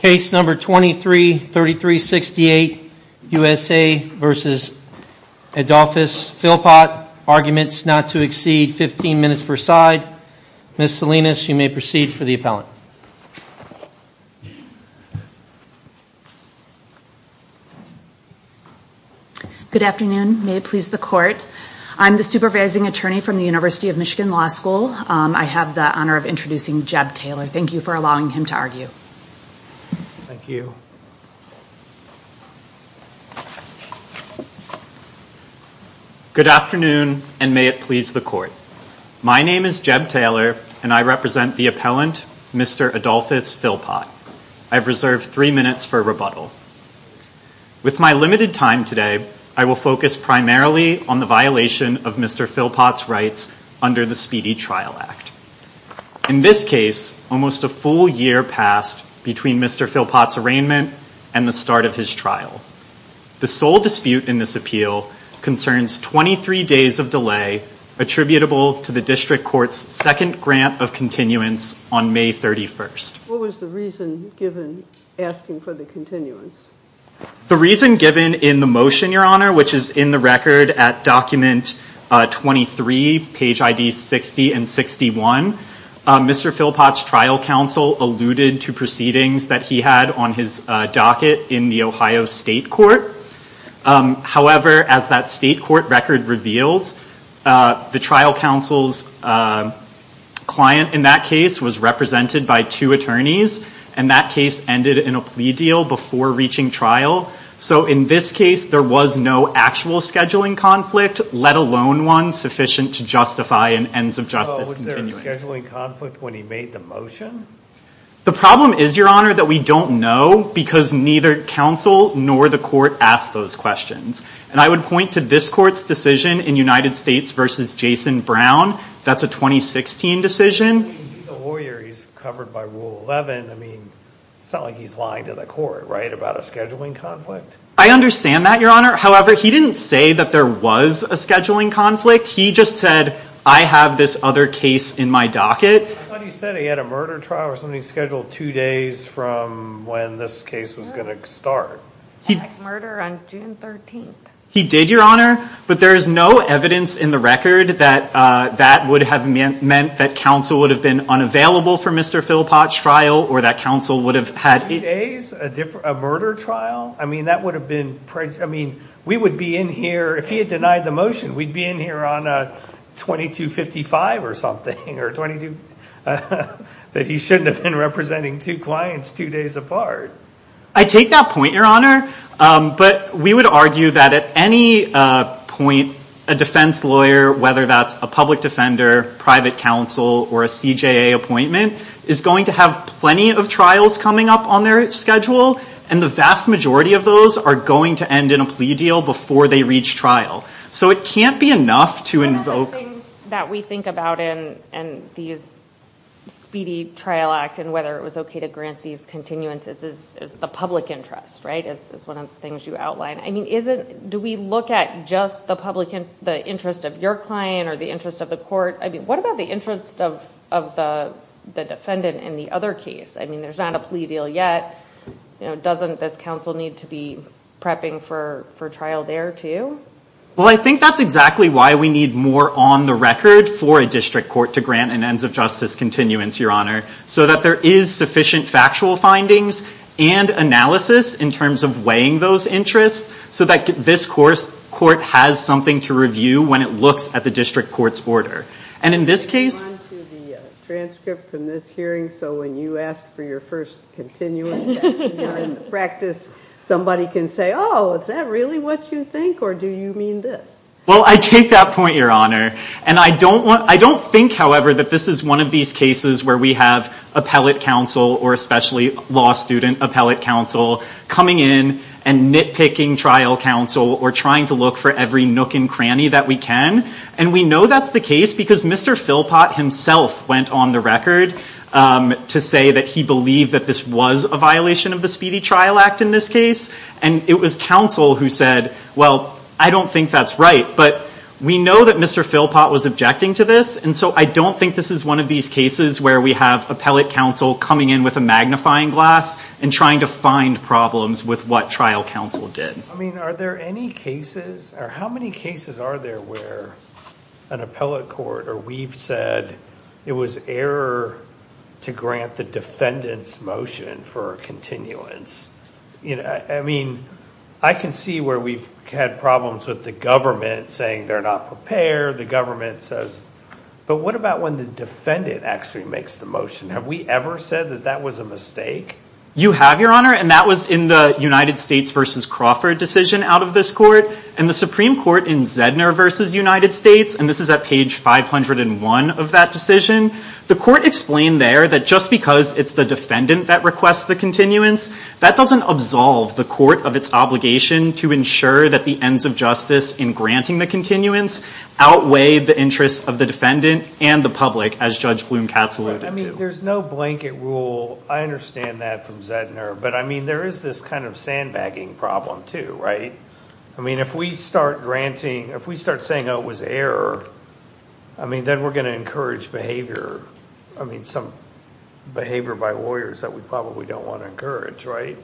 Case number 233368, USA v. Adolphus Philpot. Arguments not to exceed 15 minutes per side. Ms. Salinas, you may proceed for the appellant. Good afternoon. May it please the court. I'm the supervising attorney from the University of Michigan Law School. I have the honor of introducing Jeb Taylor. Thank you for allowing him to argue. Thank you. Good afternoon and may it please the court. My name is Jeb Taylor and I represent the appellant, Mr. Adolphus Philpot. I've reserved three minutes for rebuttal. With my limited time today, I will focus primarily on the violation of Mr. Philpot's rights under the Speedy Trial Act. In this case, almost a full year passed between Mr. Philpot's arraignment and the start of his trial. The sole dispute in this appeal concerns 23 days of delay attributable to the district court's second grant of continuance on May 31st. What was the reason given asking for the continuance? The reason given in the motion, Your Honor, which is in the record at document 23, page ID 60 and 61, Mr. Philpot's trial counsel alluded to proceedings that he had on his docket in the Ohio State Court. However, as that state court record reveals, the trial counsel's client in that case was represented by two attorneys, and that case ended in a plea deal before reaching trial. So in this case, there was no actual scheduling conflict, let alone one sufficient to justify an ends of justice continuance. Was there a scheduling conflict when he made the motion? The problem is, Your Honor, that we don't know because neither counsel nor the court asked those questions. And I would point to this court's decision in United States versus Jason Brown. That's a 2016 decision. He's a lawyer. He's covered by Rule 11. I mean, it's not like he's lying to the court, right, about a scheduling conflict. I understand that, Your Honor. However, he didn't say that there was a scheduling conflict. He just said, I have this other case in my docket. I thought he said he had a murder trial or something scheduled two days from when this case was going to start. He had a murder on June 13th. He did, Your Honor. But there is no evidence in the record that that would have meant that counsel would have been unavailable for Mr. Philpott's trial or that counsel would have had- Two days? A murder trial? I mean, that would have been- I mean, we would be in here- If he had denied the motion, we'd be in here on a 2255 or something or 22- that he shouldn't have been representing two clients two days apart. I take that point, Your Honor. But we would argue that at any point, a defense lawyer, whether that's a public defender, private counsel, or a CJA appointment is going to have plenty of trials coming up on their schedule. And the vast majority of those are going to end in a plea deal before they reach trial. So it can't be enough to invoke- One of the things that we think about in these speedy trial act and whether it was okay to grant these continuances is the public interest, right? It's one of the things you outlined. I mean, do we look at just the interest of your client or the interest of the court? I mean, what about the interest of the defendant in the other case? I mean, there's not a plea deal yet. Doesn't this counsel need to be prepping for trial there, too? Well, I think that's exactly why we need more on the record for a district court to grant an ends of justice continuance, Your Honor, so that there is sufficient factual findings and analysis in terms of weighing those interests so that this court has something to review when it looks at the district court's order. And in this case- On to the transcript from this hearing. So when you ask for your first continuance practice, somebody can say, oh, is that really what you think or do you mean this? Well, I take that point, Your Honor. And I don't think, however, that this is one of these cases where we have appellate counsel or especially law student appellate counsel coming in and nitpicking trial counsel or trying to look for every nook and cranny that we can. And we know that's the case because Mr. Philpott himself went on the record to say that he believed that this was a violation of the Speedy Trial Act in this case. And it was counsel who said, well, I don't think that's right. But we know that Mr. Philpott was objecting to this, and so I don't think this is one of these cases where we have appellate counsel coming in with a magnifying glass and trying to find problems with what trial counsel did. I mean, are there any cases or how many cases are there where an appellate court or we've said it was error to grant the defendant's motion for continuance? I mean, I can see where we've had problems with the government saying they're not prepared. The government says, but what about when the defendant actually makes the motion? Have we ever said that that was a mistake? You have, Your Honor, and that was in the United States v. Crawford decision out of this court. And the Supreme Court in Zedner v. United States, and this is at page 501 of that decision, the court explained there that just because it's the defendant that requests the continuance, that doesn't absolve the court of its obligation to ensure that the ends of justice in granting the continuance outweigh the interests of the defendant and the public, as Judge Bloom-Katz alluded to. There's no blanket rule. I understand that from Zedner. But, I mean, there is this kind of sandbagging problem, too, right? I mean, if we start granting, if we start saying, oh, it was error, I mean, then we're going to encourage behavior. I mean, some behavior by lawyers that we probably don't want to encourage, right?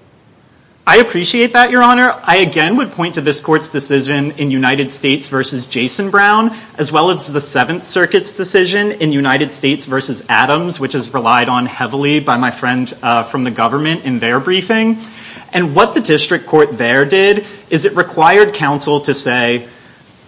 I appreciate that, Your Honor. I, again, would point to this court's decision in United States v. Jason Brown, as well as the Seventh Circuit's decision in United States v. Adams, which is relied on heavily by my friend from the government in their briefing. And what the district court there did is it required counsel to say,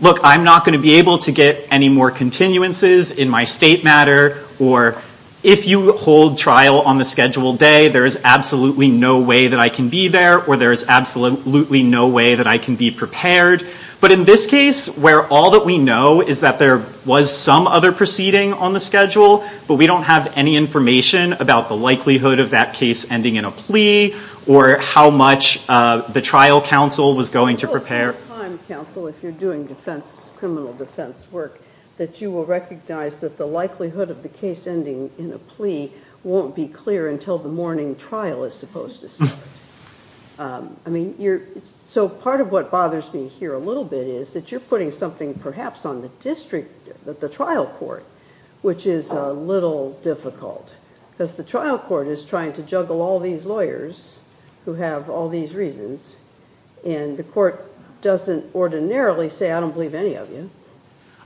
look, I'm not going to be able to get any more continuances in my state matter, or if you hold trial on the scheduled day, there is absolutely no way that I can be there, or there is absolutely no way that I can be prepared. But in this case, where all that we know is that there was some other proceeding on the schedule, but we don't have any information about the likelihood of that case ending in a plea, or how much the trial counsel was going to prepare. Well, at the time, counsel, if you're doing defense, criminal defense work, that you will recognize that the likelihood of the case ending in a plea won't be clear until the morning trial is supposed to start. So part of what bothers me here a little bit is that you're putting something perhaps on the district, the trial court, which is a little difficult. Because the trial court is trying to juggle all these lawyers who have all these reasons, and the court doesn't ordinarily say, I don't believe any of you.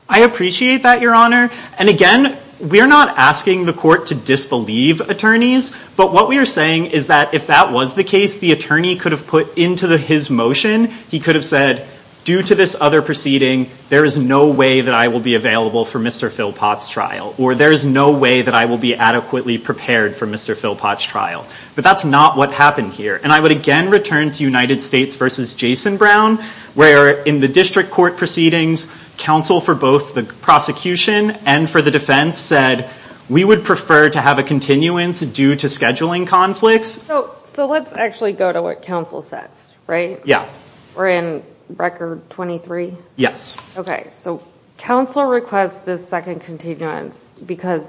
I appreciate that, Your Honor. And again, we're not asking the court to disbelieve attorneys, but what we are saying is that if that was the case, the attorney could have put into his motion, he could have said, due to this other proceeding, there is no way that I will be available for Mr. Philpott's trial, or there is no way that I will be adequately prepared for Mr. Philpott's trial. But that's not what happened here. And I would again return to United States v. Jason Brown, where in the district court proceedings, counsel for both the prosecution and for the defense said, we would prefer to have a continuance due to scheduling conflicts. So let's actually go to what counsel says, right? Yeah. We're in record 23? Yes. Okay. So counsel requests this second continuance because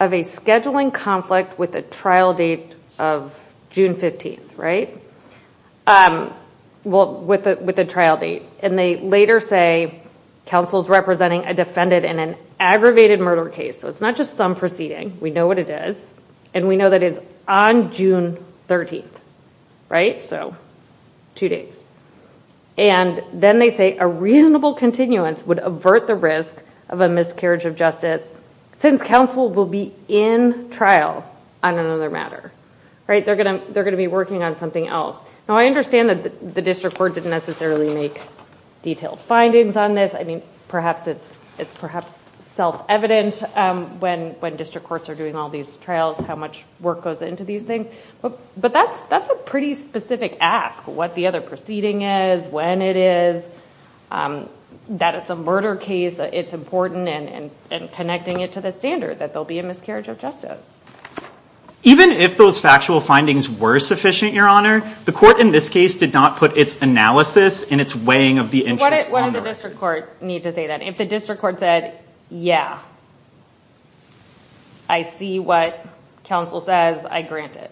of a scheduling conflict with a trial date of June 15th, right? Well, with a trial date. And they later say, counsel is representing a defendant in an aggravated murder case. So it's not just some proceeding. We know what it is. And we know that it's on June 13th. Right? So two days. And then they say a reasonable continuance would avert the risk of a miscarriage of justice since counsel will be in trial on another matter. Right? They're going to be working on something else. Now, I understand that the district court didn't necessarily make detailed findings on this. I mean, perhaps it's self-evident when district courts are doing all these trials, how much work goes into these things. But that's a pretty specific ask, what the other proceeding is, when it is, that it's a murder case, it's important, and connecting it to the standard that there'll be a miscarriage of justice. Even if those factual findings were sufficient, Your Honor, the court in this case did not put its analysis and its weighing of the interest on the record. What would the district court need to say then? If the district court said, yeah, I see what counsel says, I grant it.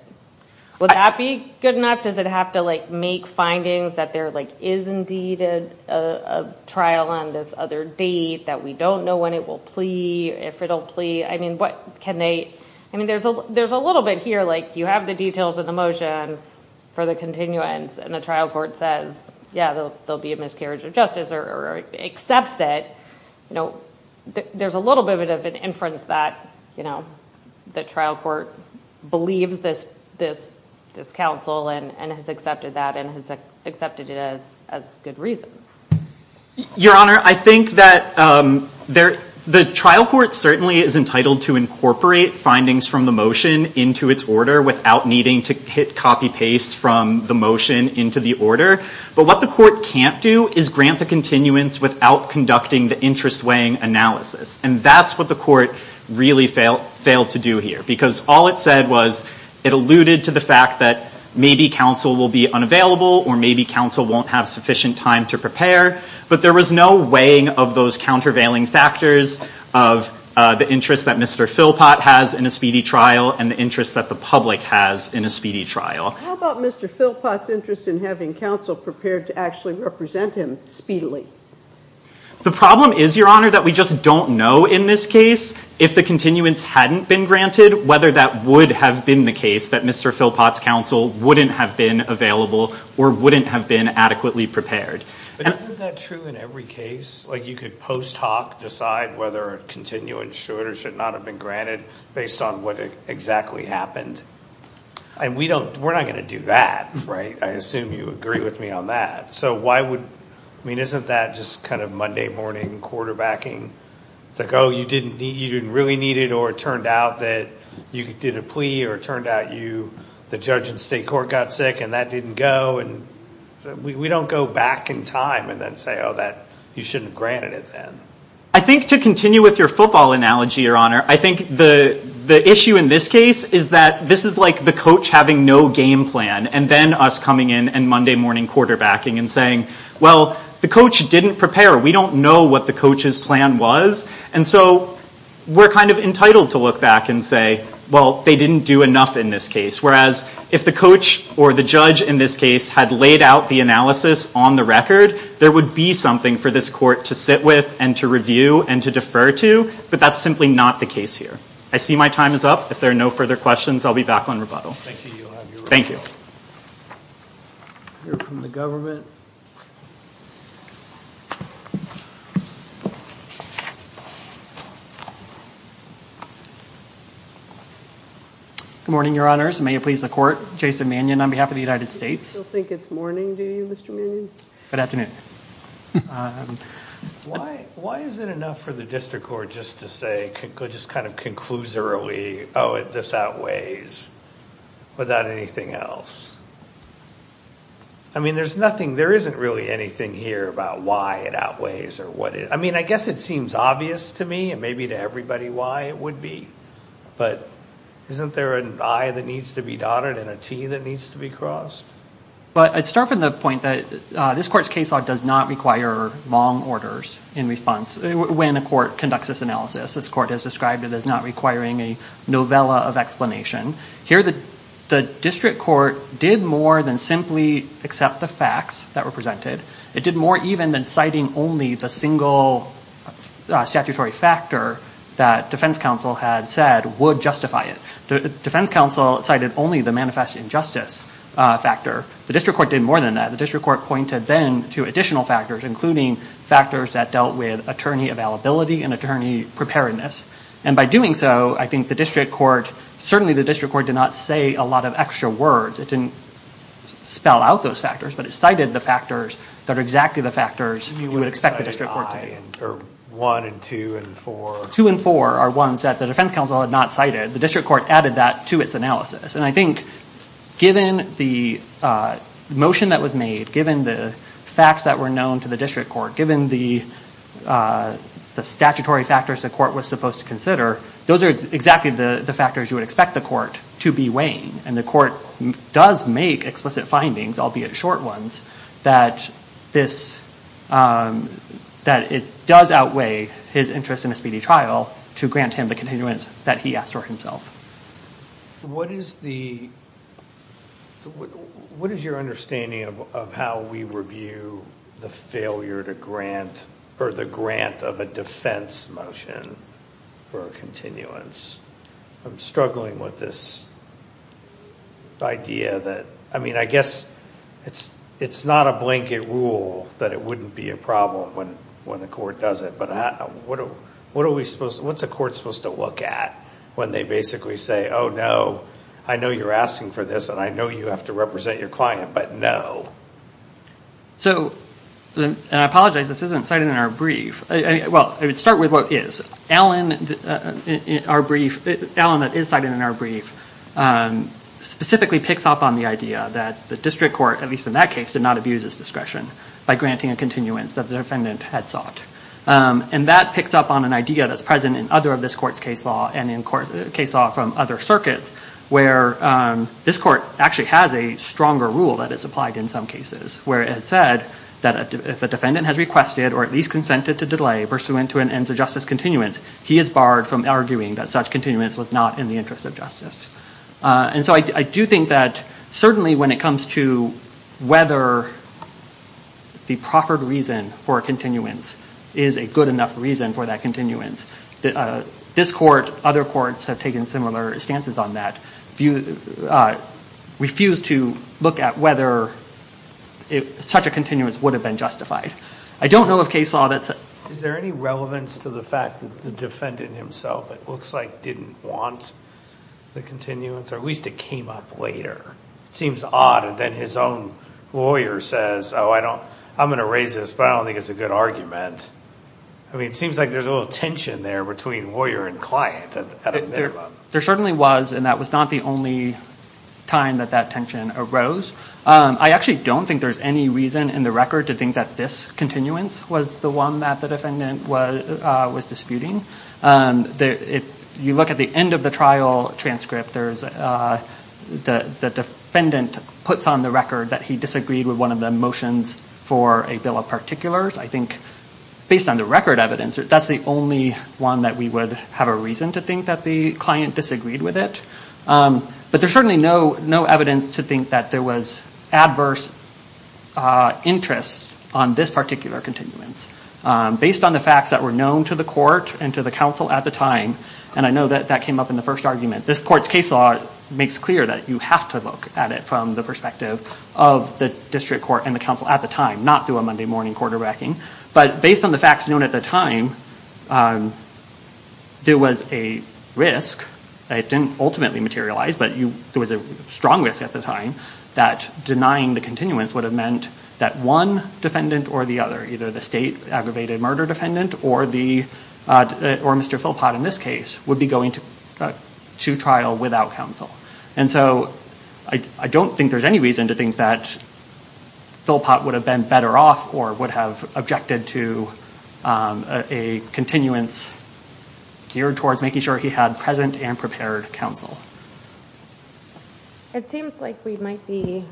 Would that be good enough? Does it have to make findings that there is indeed a trial on this other date, that we don't know when it will plea, if it'll plea? I mean, what can they? I mean, there's a little bit here. You have the details of the motion for the continuance, and the trial court says, yeah, there'll be a miscarriage of justice, or accepts it. There's a little bit of an inference that the trial court believes this counsel, and has accepted that, and has accepted it as good reasons. Your Honor, I think that the trial court certainly is entitled to incorporate findings from the motion into its order without needing to hit copy-paste from the motion into the order. But what the court can't do is grant the continuance without conducting the interest-weighing analysis. And that's what the court really failed to do here, because all it said was it alluded to the fact that maybe counsel will be unavailable, or maybe counsel won't have sufficient time to prepare. But there was no weighing of those countervailing factors of the interest that Mr. Philpott has in a speedy trial, and the interest that the public has in a speedy trial. How about Mr. Philpott's interest in having counsel prepared to actually represent him speedily? The problem is, Your Honor, that we just don't know in this case if the continuance hadn't been granted, whether that would have been the case that Mr. Philpott's counsel wouldn't have been available or wouldn't have been adequately prepared. But isn't that true in every case? Like you could post hoc decide whether a continuance should or should not have been granted based on what exactly happened. And we're not going to do that, right? I assume you agree with me on that. So why would, I mean, isn't that just kind of Monday morning quarterbacking? It's like, oh, you didn't really need it, or it turned out that you did a plea, or it turned out the judge in state court got sick and that didn't go. And we don't go back in time and then say, oh, you shouldn't have granted it then. I think to continue with your football analogy, Your Honor, I think the issue in this case is that this is like the coach having no game plan and then us coming in and Monday morning quarterbacking and saying, well, the coach didn't prepare. We don't know what the coach's plan was. And so we're kind of entitled to look back and say, well, they didn't do enough in this case. Whereas if the coach or the judge in this case had laid out the analysis on the record, there would be something for this court to sit with and to review and to defer to. But that's simply not the case here. I see my time is up. If there are no further questions, I'll be back on rebuttal. Thank you. Thank you. We'll hear from the government. Good morning, Your Honors. May it please the court. Jason Mannion on behalf of the United States. You still think it's morning to you, Mr. Mannion? Good afternoon. Why is it enough for the district court just to say, just kind of conclusorily, oh, this outweighs. Without anything else. I mean, there's nothing. There isn't really anything here about why it outweighs. I mean, I guess it seems obvious to me and maybe to everybody why it would be. But isn't there an I that needs to be dotted and a T that needs to be crossed? But I'd start from the point that this court's case law does not require long orders in response. When a court conducts this analysis, this court has described it as not requiring a novella of explanation. Here, the district court did more than simply accept the facts that were presented. It did more even than citing only the single statutory factor that defense counsel had said would justify it. Defense counsel cited only the manifest injustice factor. The district court did more than that. The district court pointed then to additional factors, including factors that dealt with attorney availability and attorney preparedness. And by doing so, I think the district court, certainly the district court did not say a lot of extra words. It didn't spell out those factors, but it cited the factors that are exactly the factors you would expect the district court to. One and two and four. Two and four are ones that the defense counsel had not cited. The district court added that to its analysis. And I think given the motion that was made, given the facts that were known to the district court, given the statutory factors the court was supposed to consider, those are exactly the factors you would expect the court to be weighing. And the court does make explicit findings, albeit short ones, that it does outweigh his interest in a speedy trial to grant him the continuance that he asked for himself. What is your understanding of how we review the failure to grant or the grant of a defense motion for a continuance? I'm struggling with this idea that, I mean, I guess it's not a blanket rule that it wouldn't be a problem when the court does it, but what's a court supposed to look at when they basically say, oh, no, I know you're asking for this and I know you have to represent your client, but no. So, and I apologize, this isn't cited in our brief. Well, I would start with what is. Alan, in our brief, Alan that is cited in our brief, specifically picks up on the idea that the district court, at least in that case, did not abuse his discretion by granting a continuance that the defendant had sought. And that picks up on an idea that's present in other of this court's case law and in case law from other circuits, where this court actually has a stronger rule that is applied in some cases, where it is said that if a defendant has requested or at least consented to delay pursuant to an ends of justice continuance, he is barred from arguing that such continuance was not in the interest of justice. And so I do think that certainly when it comes to whether the proffered reason for a continuance is a good enough reason for that continuance, this court, other courts have taken similar stances on that, refuse to look at whether such a continuance would have been justified. I don't know of case law that's... defendant himself, it looks like, didn't want the continuance, or at least it came up later. It seems odd that his own lawyer says, oh, I'm going to raise this, but I don't think it's a good argument. I mean, it seems like there's a little tension there between lawyer and client. There certainly was, and that was not the only time that that tension arose. I actually don't think there's any reason in the record to think that this continuance was the one that the defendant was disputing. If you look at the end of the trial transcript, the defendant puts on the record that he disagreed with one of the motions for a bill of particulars. I think based on the record evidence, that's the only one that we would have a reason to think that the client disagreed with it. But there's certainly no evidence to think that there was adverse interest on this particular continuance. Based on the facts that were known to the court and to the counsel at the time, and I know that that came up in the first argument, this court's case law makes clear that you have to look at it from the perspective of the district court and the counsel at the time, not through a Monday morning quarterbacking. But based on the facts known at the time, there was a risk. It didn't ultimately materialize, but there was a strong risk at the time that denying the continuance would have meant that one defendant or the other, either the state aggravated murder defendant or Mr. Philpott in this case, would be going to trial without counsel. And so I don't think there's any reason to think that Philpott would have been better off or would have objected to a continuance geared towards making sure he had present and prepared counsel. It seems like we might be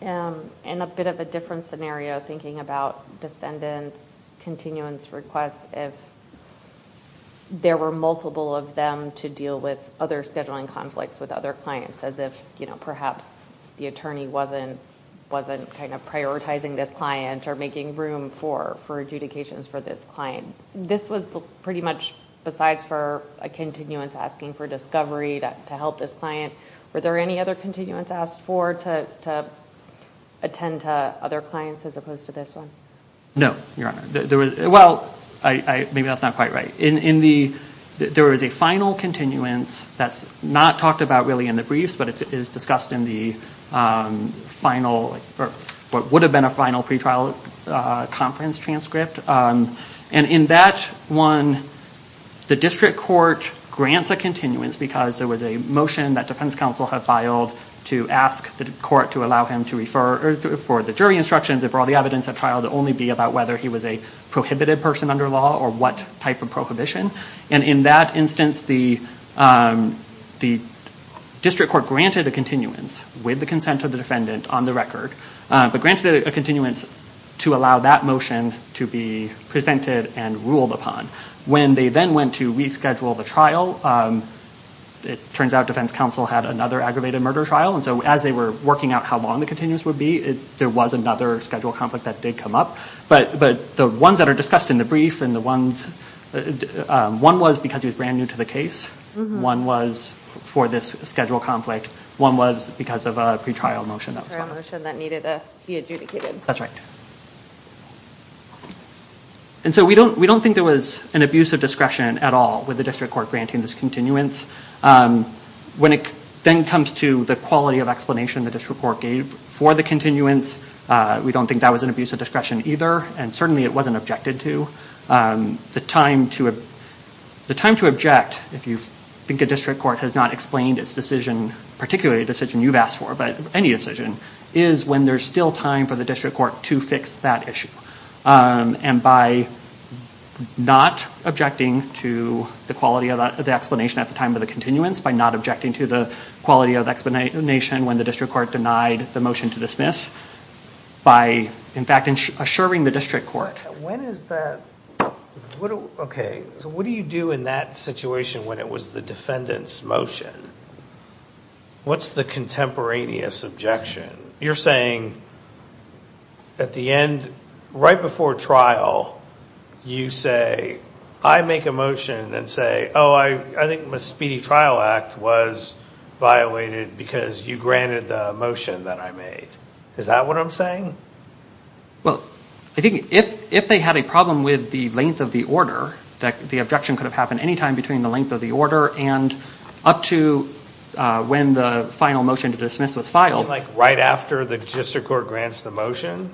in a bit of a different scenario thinking about defendants' continuance requests if there were multiple of them to deal with other scheduling conflicts with other clients, as if perhaps the attorney wasn't prioritizing this client or making room for adjudications for this client. This was pretty much besides for a continuance asking for discovery to help this client. Were there any other continuance asked for to attend to other clients as opposed to this one? No, Your Honor. Well, maybe that's not quite right. There was a final continuance that's not talked about really in the briefs, but it is discussed in what would have been a final pretrial conference transcript. And in that one, the district court grants a continuance because there was a motion that defense counsel had filed to ask the court to allow him to refer for the jury instructions and for all the evidence at trial to only be about whether he was a prohibited person under law or what type of prohibition. And in that instance, the district court granted a continuance with the consent of the defendant on the record, but granted a continuance to allow that motion to be presented and ruled upon. When they then went to reschedule the trial, it turns out defense counsel had another aggravated murder trial. And so as they were working out how long the continuance would be, there was another scheduled conflict that did come up. But the ones that are discussed in the brief, one was because he was brand new to the case. One was for this scheduled conflict. One was because of a pretrial motion that was filed. A motion that needed to be adjudicated. That's right. And so we don't think there was an abuse of discretion at all with the district court granting this continuance. When it then comes to the quality of explanation the district court gave for the continuance, we don't think that was an abuse of discretion either, and certainly it wasn't objected to. The time to object, if you think a district court has not explained its decision, particularly a decision you've asked for, but any decision, is when there's still time for the district court to fix that issue. And by not objecting to the quality of the explanation at the time of the continuance, by not objecting to the quality of explanation when the district court denied the motion to dismiss, by in fact assuring the district court. When is that? Okay, so what do you do in that situation when it was the defendant's motion? What's the contemporaneous objection? You're saying at the end, right before trial, you say, I make a motion and say, oh, I think the Speedy Trial Act was violated because you granted the motion that I made. Is that what I'm saying? Well, I think if they had a problem with the length of the order, the objection could have happened any time between the length of the order and up to when the final motion to dismiss was filed. Like right after the district court grants the motion?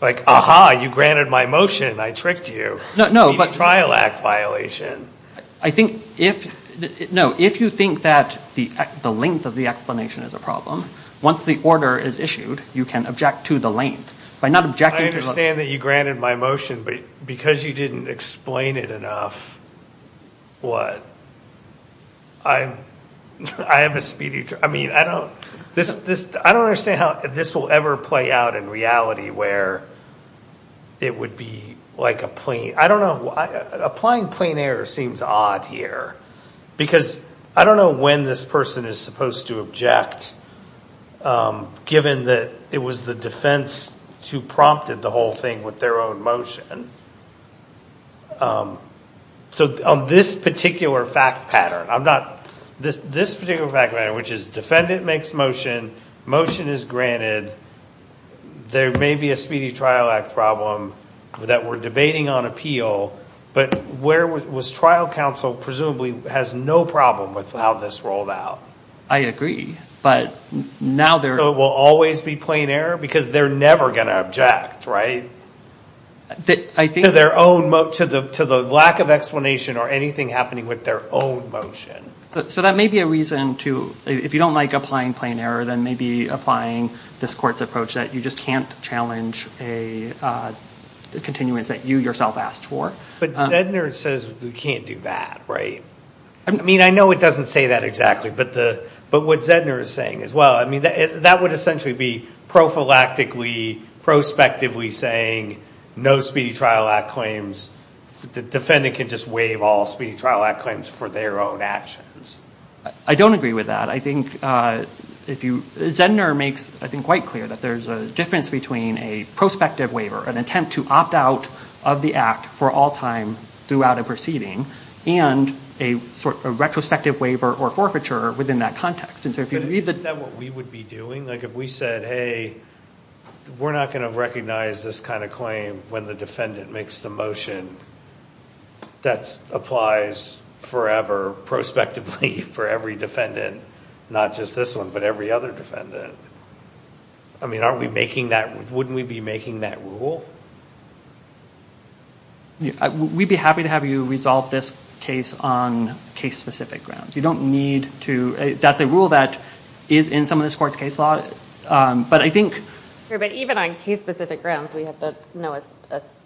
Like, aha, you granted my motion, I tricked you. No, no, but. Speedy Trial Act violation. I think if, no, if you think that the length of the explanation is a problem, once the order is issued, you can object to the length. By not objecting to the length. I understand that you granted my motion, but because you didn't explain it enough, what? I am a speedy, I mean, I don't understand how this will ever play out in reality where it would be like a plain, I don't know, applying plain error seems odd here. Because I don't know when this person is supposed to object, given that it was the defense who prompted the whole thing with their own motion. So on this particular fact pattern, I'm not, this particular fact pattern, which is defendant makes motion, motion is granted, there may be a Speedy Trial Act problem that we're debating on appeal, but where was trial counsel presumably has no problem with how this rolled out? I agree, but now there. So it will always be plain error? Because they're never going to object, right? To their own, to the lack of explanation or anything happening with their own motion. So that may be a reason to, if you don't like applying plain error, then maybe applying this court's approach that you just can't challenge a continuance that you yourself asked for. But Zedner says we can't do that, right? I mean, I know it doesn't say that exactly, but what Zedner is saying as well, I mean, that would essentially be prophylactically, prospectively saying no Speedy Trial Act claims, the defendant can just waive all Speedy Trial Act claims for their own actions. I don't agree with that. I think if you, Zedner makes, I think, quite clear that there's a difference between a prospective waiver, an attempt to opt out of the act for all time throughout a proceeding, and a retrospective waiver or forfeiture within that context. Isn't that what we would be doing? Like if we said, hey, we're not going to recognize this kind of claim when the defendant makes the motion, that applies forever prospectively for every defendant, not just this one, but every other defendant. I mean, aren't we making that, wouldn't we be making that rule? We'd be happy to have you resolve this case on case specific grounds. You don't need to, that's a rule that is in some of this court's case law. But I think- But even on case specific grounds, we have to know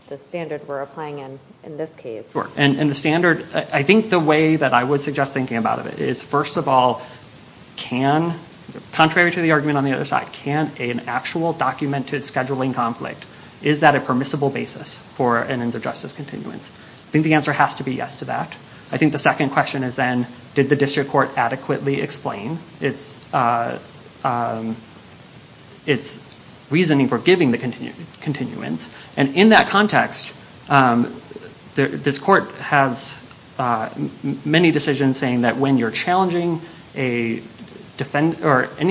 the standard we're applying in this case. Sure. And the standard, I think the way that I would suggest thinking about it is, first of all, can, contrary to the argument on the other side, can an actual documented scheduling conflict, is that a permissible basis for an ends of justice continuance? I think the answer has to be yes to that. I think the second question is then, did the district court adequately explain its reasoning for giving the continuance? And in that context, this court has many decisions saying that when you're challenging any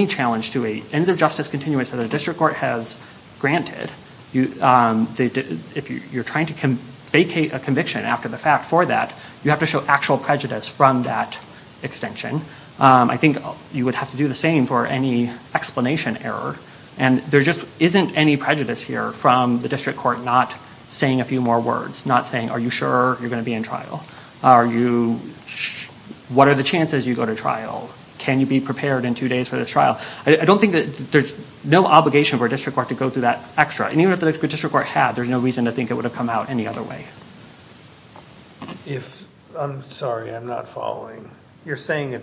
challenge to an ends of justice continuance that a district court has granted, if you're trying to vacate a conviction after the fact for that, you have to show actual prejudice from that extension. I think you would have to do the same for any explanation error. And there just isn't any prejudice here from the district court not saying a few more words, not saying, are you sure you're going to be in trial? What are the chances you go to trial? Can you be prepared in two days for this trial? I don't think that there's no obligation for a district court to go through that extra. And even if the district court had, there's no reason to think it would have come out any other way. I'm sorry, I'm not following. You're saying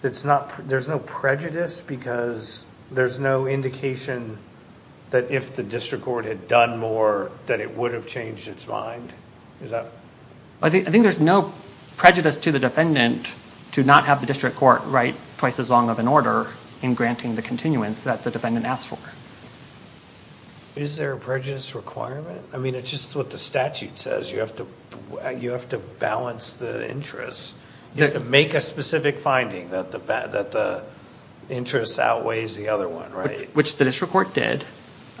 there's no prejudice because there's no indication that if the district court had done more that it would have changed its mind? I think there's no prejudice to the defendant to not have the district court write twice as long of an order in granting the continuance that the defendant asked for. Is there a prejudice requirement? I mean, it's just what the statute says. You have to balance the interests. You have to make a specific finding that the interest outweighs the other one, right? Which the district court did.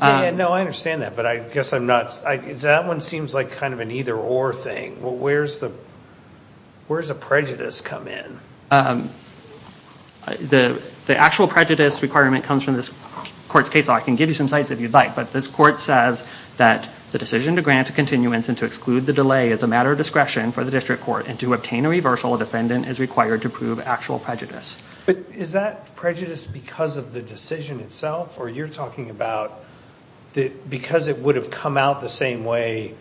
No, I understand that, but I guess I'm not. That one seems like kind of an either-or thing. Where does the prejudice come in? The actual prejudice requirement comes from this court's case law. I can give you some sites if you'd like, but this court says that the decision to grant a continuance and to exclude the delay is a matter of discretion for the district court and to obtain a reversal, a defendant is required to prove actual prejudice. But is that prejudice because of the decision itself? Or you're talking about because it would have come out the same way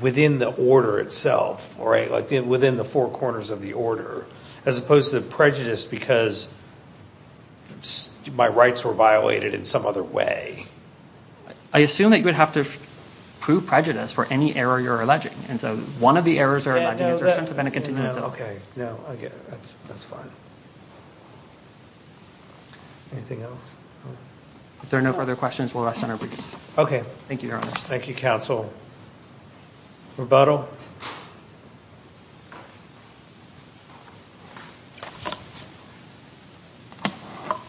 within the order itself, right? Within the four corners of the order, as opposed to the prejudice because my rights were violated in some other way. I assume that you would have to prove prejudice for any error you're alleging. And so one of the errors you're alleging is your decision to grant a continuance. Okay. No, I get it. That's fine. Anything else? If there are no further questions, we'll rest on our briefs. Okay. Thank you, Your Honor. Thank you, Counsel. Rebuttal.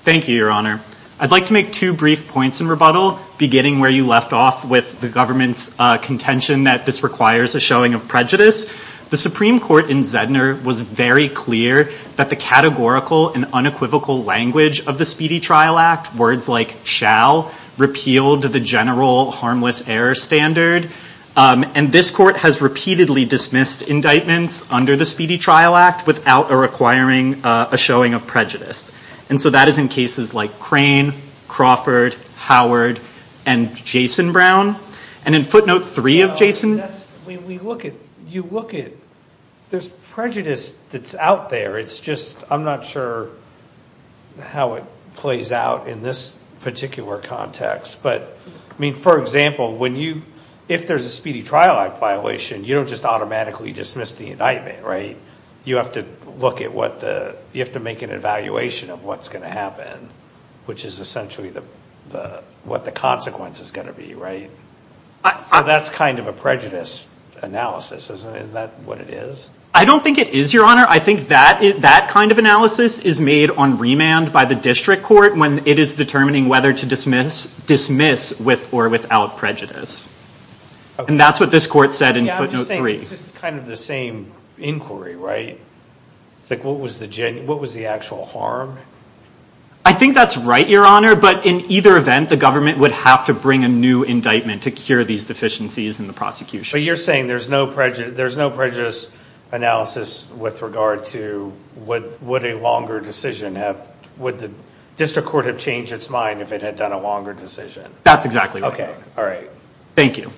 Thank you, Your Honor. I'd like to make two brief points in rebuttal, beginning where you left off with the government's contention that this requires a showing of prejudice. The Supreme Court in Zedner was very clear that the categorical and unequivocal language of the Speedy Trial Act, words like shall, repealed the general harmless error standard. And this court has repeatedly dismissed indictments under the Speedy Trial Act without requiring a showing of prejudice. And so that is in cases like Crane, Crawford, Howard, and Jason Brown. And in footnote three of Jason. When you look at it, there's prejudice that's out there. It's just I'm not sure how it plays out in this particular context. But, I mean, for example, if there's a Speedy Trial Act violation, you don't just automatically dismiss the indictment, right? You have to make an evaluation of what's going to happen, which is essentially what the consequence is going to be, right? So that's kind of a prejudice analysis, isn't it? Isn't that what it is? I don't think it is, Your Honor. I think that kind of analysis is made on remand by the district court when it is determining whether to dismiss with or without prejudice. And that's what this court said in footnote three. It's kind of the same inquiry, right? What was the actual harm? I think that's right, Your Honor. But in either event, the government would have to bring a new indictment to cure these deficiencies in the prosecution. But you're saying there's no prejudice analysis with regard to would a longer decision have, would the district court have changed its mind if it had done a longer decision? That's exactly right. Okay, all right. Thank you.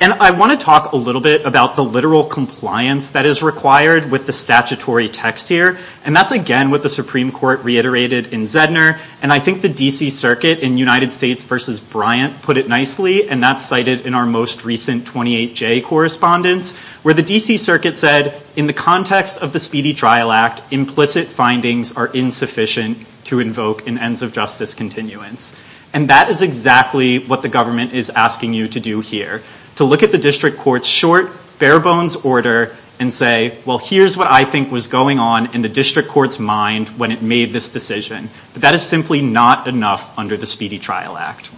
And I want to talk a little bit about the literal compliance that is required with the statutory text here. And that's, again, what the Supreme Court reiterated in Zedner. And I think the D.C. Circuit in United States v. Bryant put it nicely, and that's cited in our most recent 28-J correspondence, where the D.C. Circuit said, in the context of the Speedy Trial Act, implicit findings are insufficient to invoke an ends of justice continuance. And that is exactly what the government is asking you to do here, to look at the district court's short, bare-bones order and say, well, here's what I think was going on in the district court's mind when it made this decision. But that is simply not enough under the Speedy Trial Act.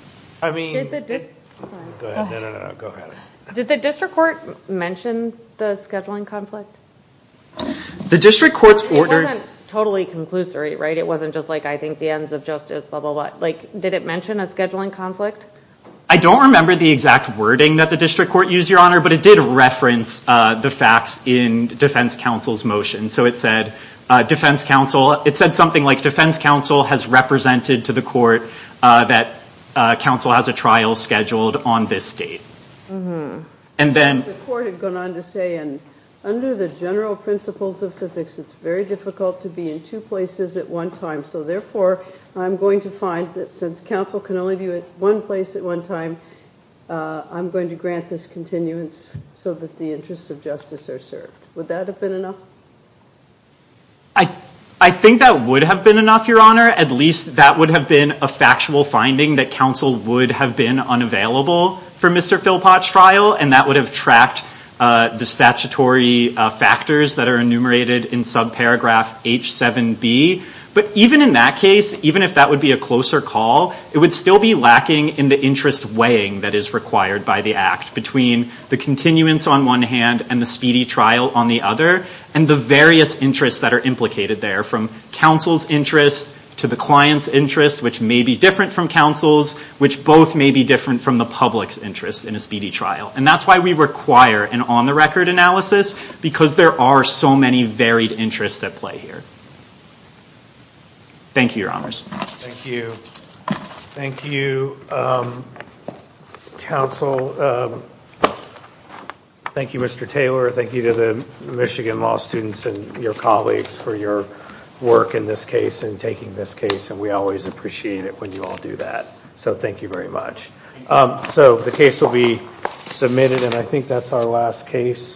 Go ahead. No, no, no. Go ahead. Did the district court mention the scheduling conflict? It wasn't totally conclusory, right? It wasn't just like, I think the ends of justice, blah, blah, blah. Did it mention a scheduling conflict? I don't remember the exact wording that the district court used, Your Honor, but it did reference the facts in defense counsel's motion. So it said something like, defense counsel has represented to the court that counsel has a trial scheduled on this date. The court had gone on to say, under the general principles of physics, it's very difficult to be in two places at one time, so therefore I'm going to find that since counsel can only be at one place at one time, I'm going to grant this continuance so that the interests of justice are served. Would that have been enough? I think that would have been enough, Your Honor. At least that would have been a factual finding that counsel would have been unavailable for Mr. Philpott's trial, and that would have tracked the statutory factors that are enumerated in subparagraph H7B. But even in that case, even if that would be a closer call, it would still be lacking in the interest weighing that is required by the act between the continuance on one hand and the speedy trial on the other, and the various interests that are implicated there, from counsel's interest to the client's interest, which may be different from counsel's, which both may be different from the public's interest in a speedy trial. And that's why we require an on-the-record analysis, because there are so many varied interests at play here. Thank you, Your Honors. Thank you. Thank you, counsel. Thank you, Mr. Taylor. Thank you to the Michigan Law students and your colleagues for your work in this case and taking this case, and we always appreciate it when you all do that. So thank you very much. So the case will be submitted, and I think that's our last case.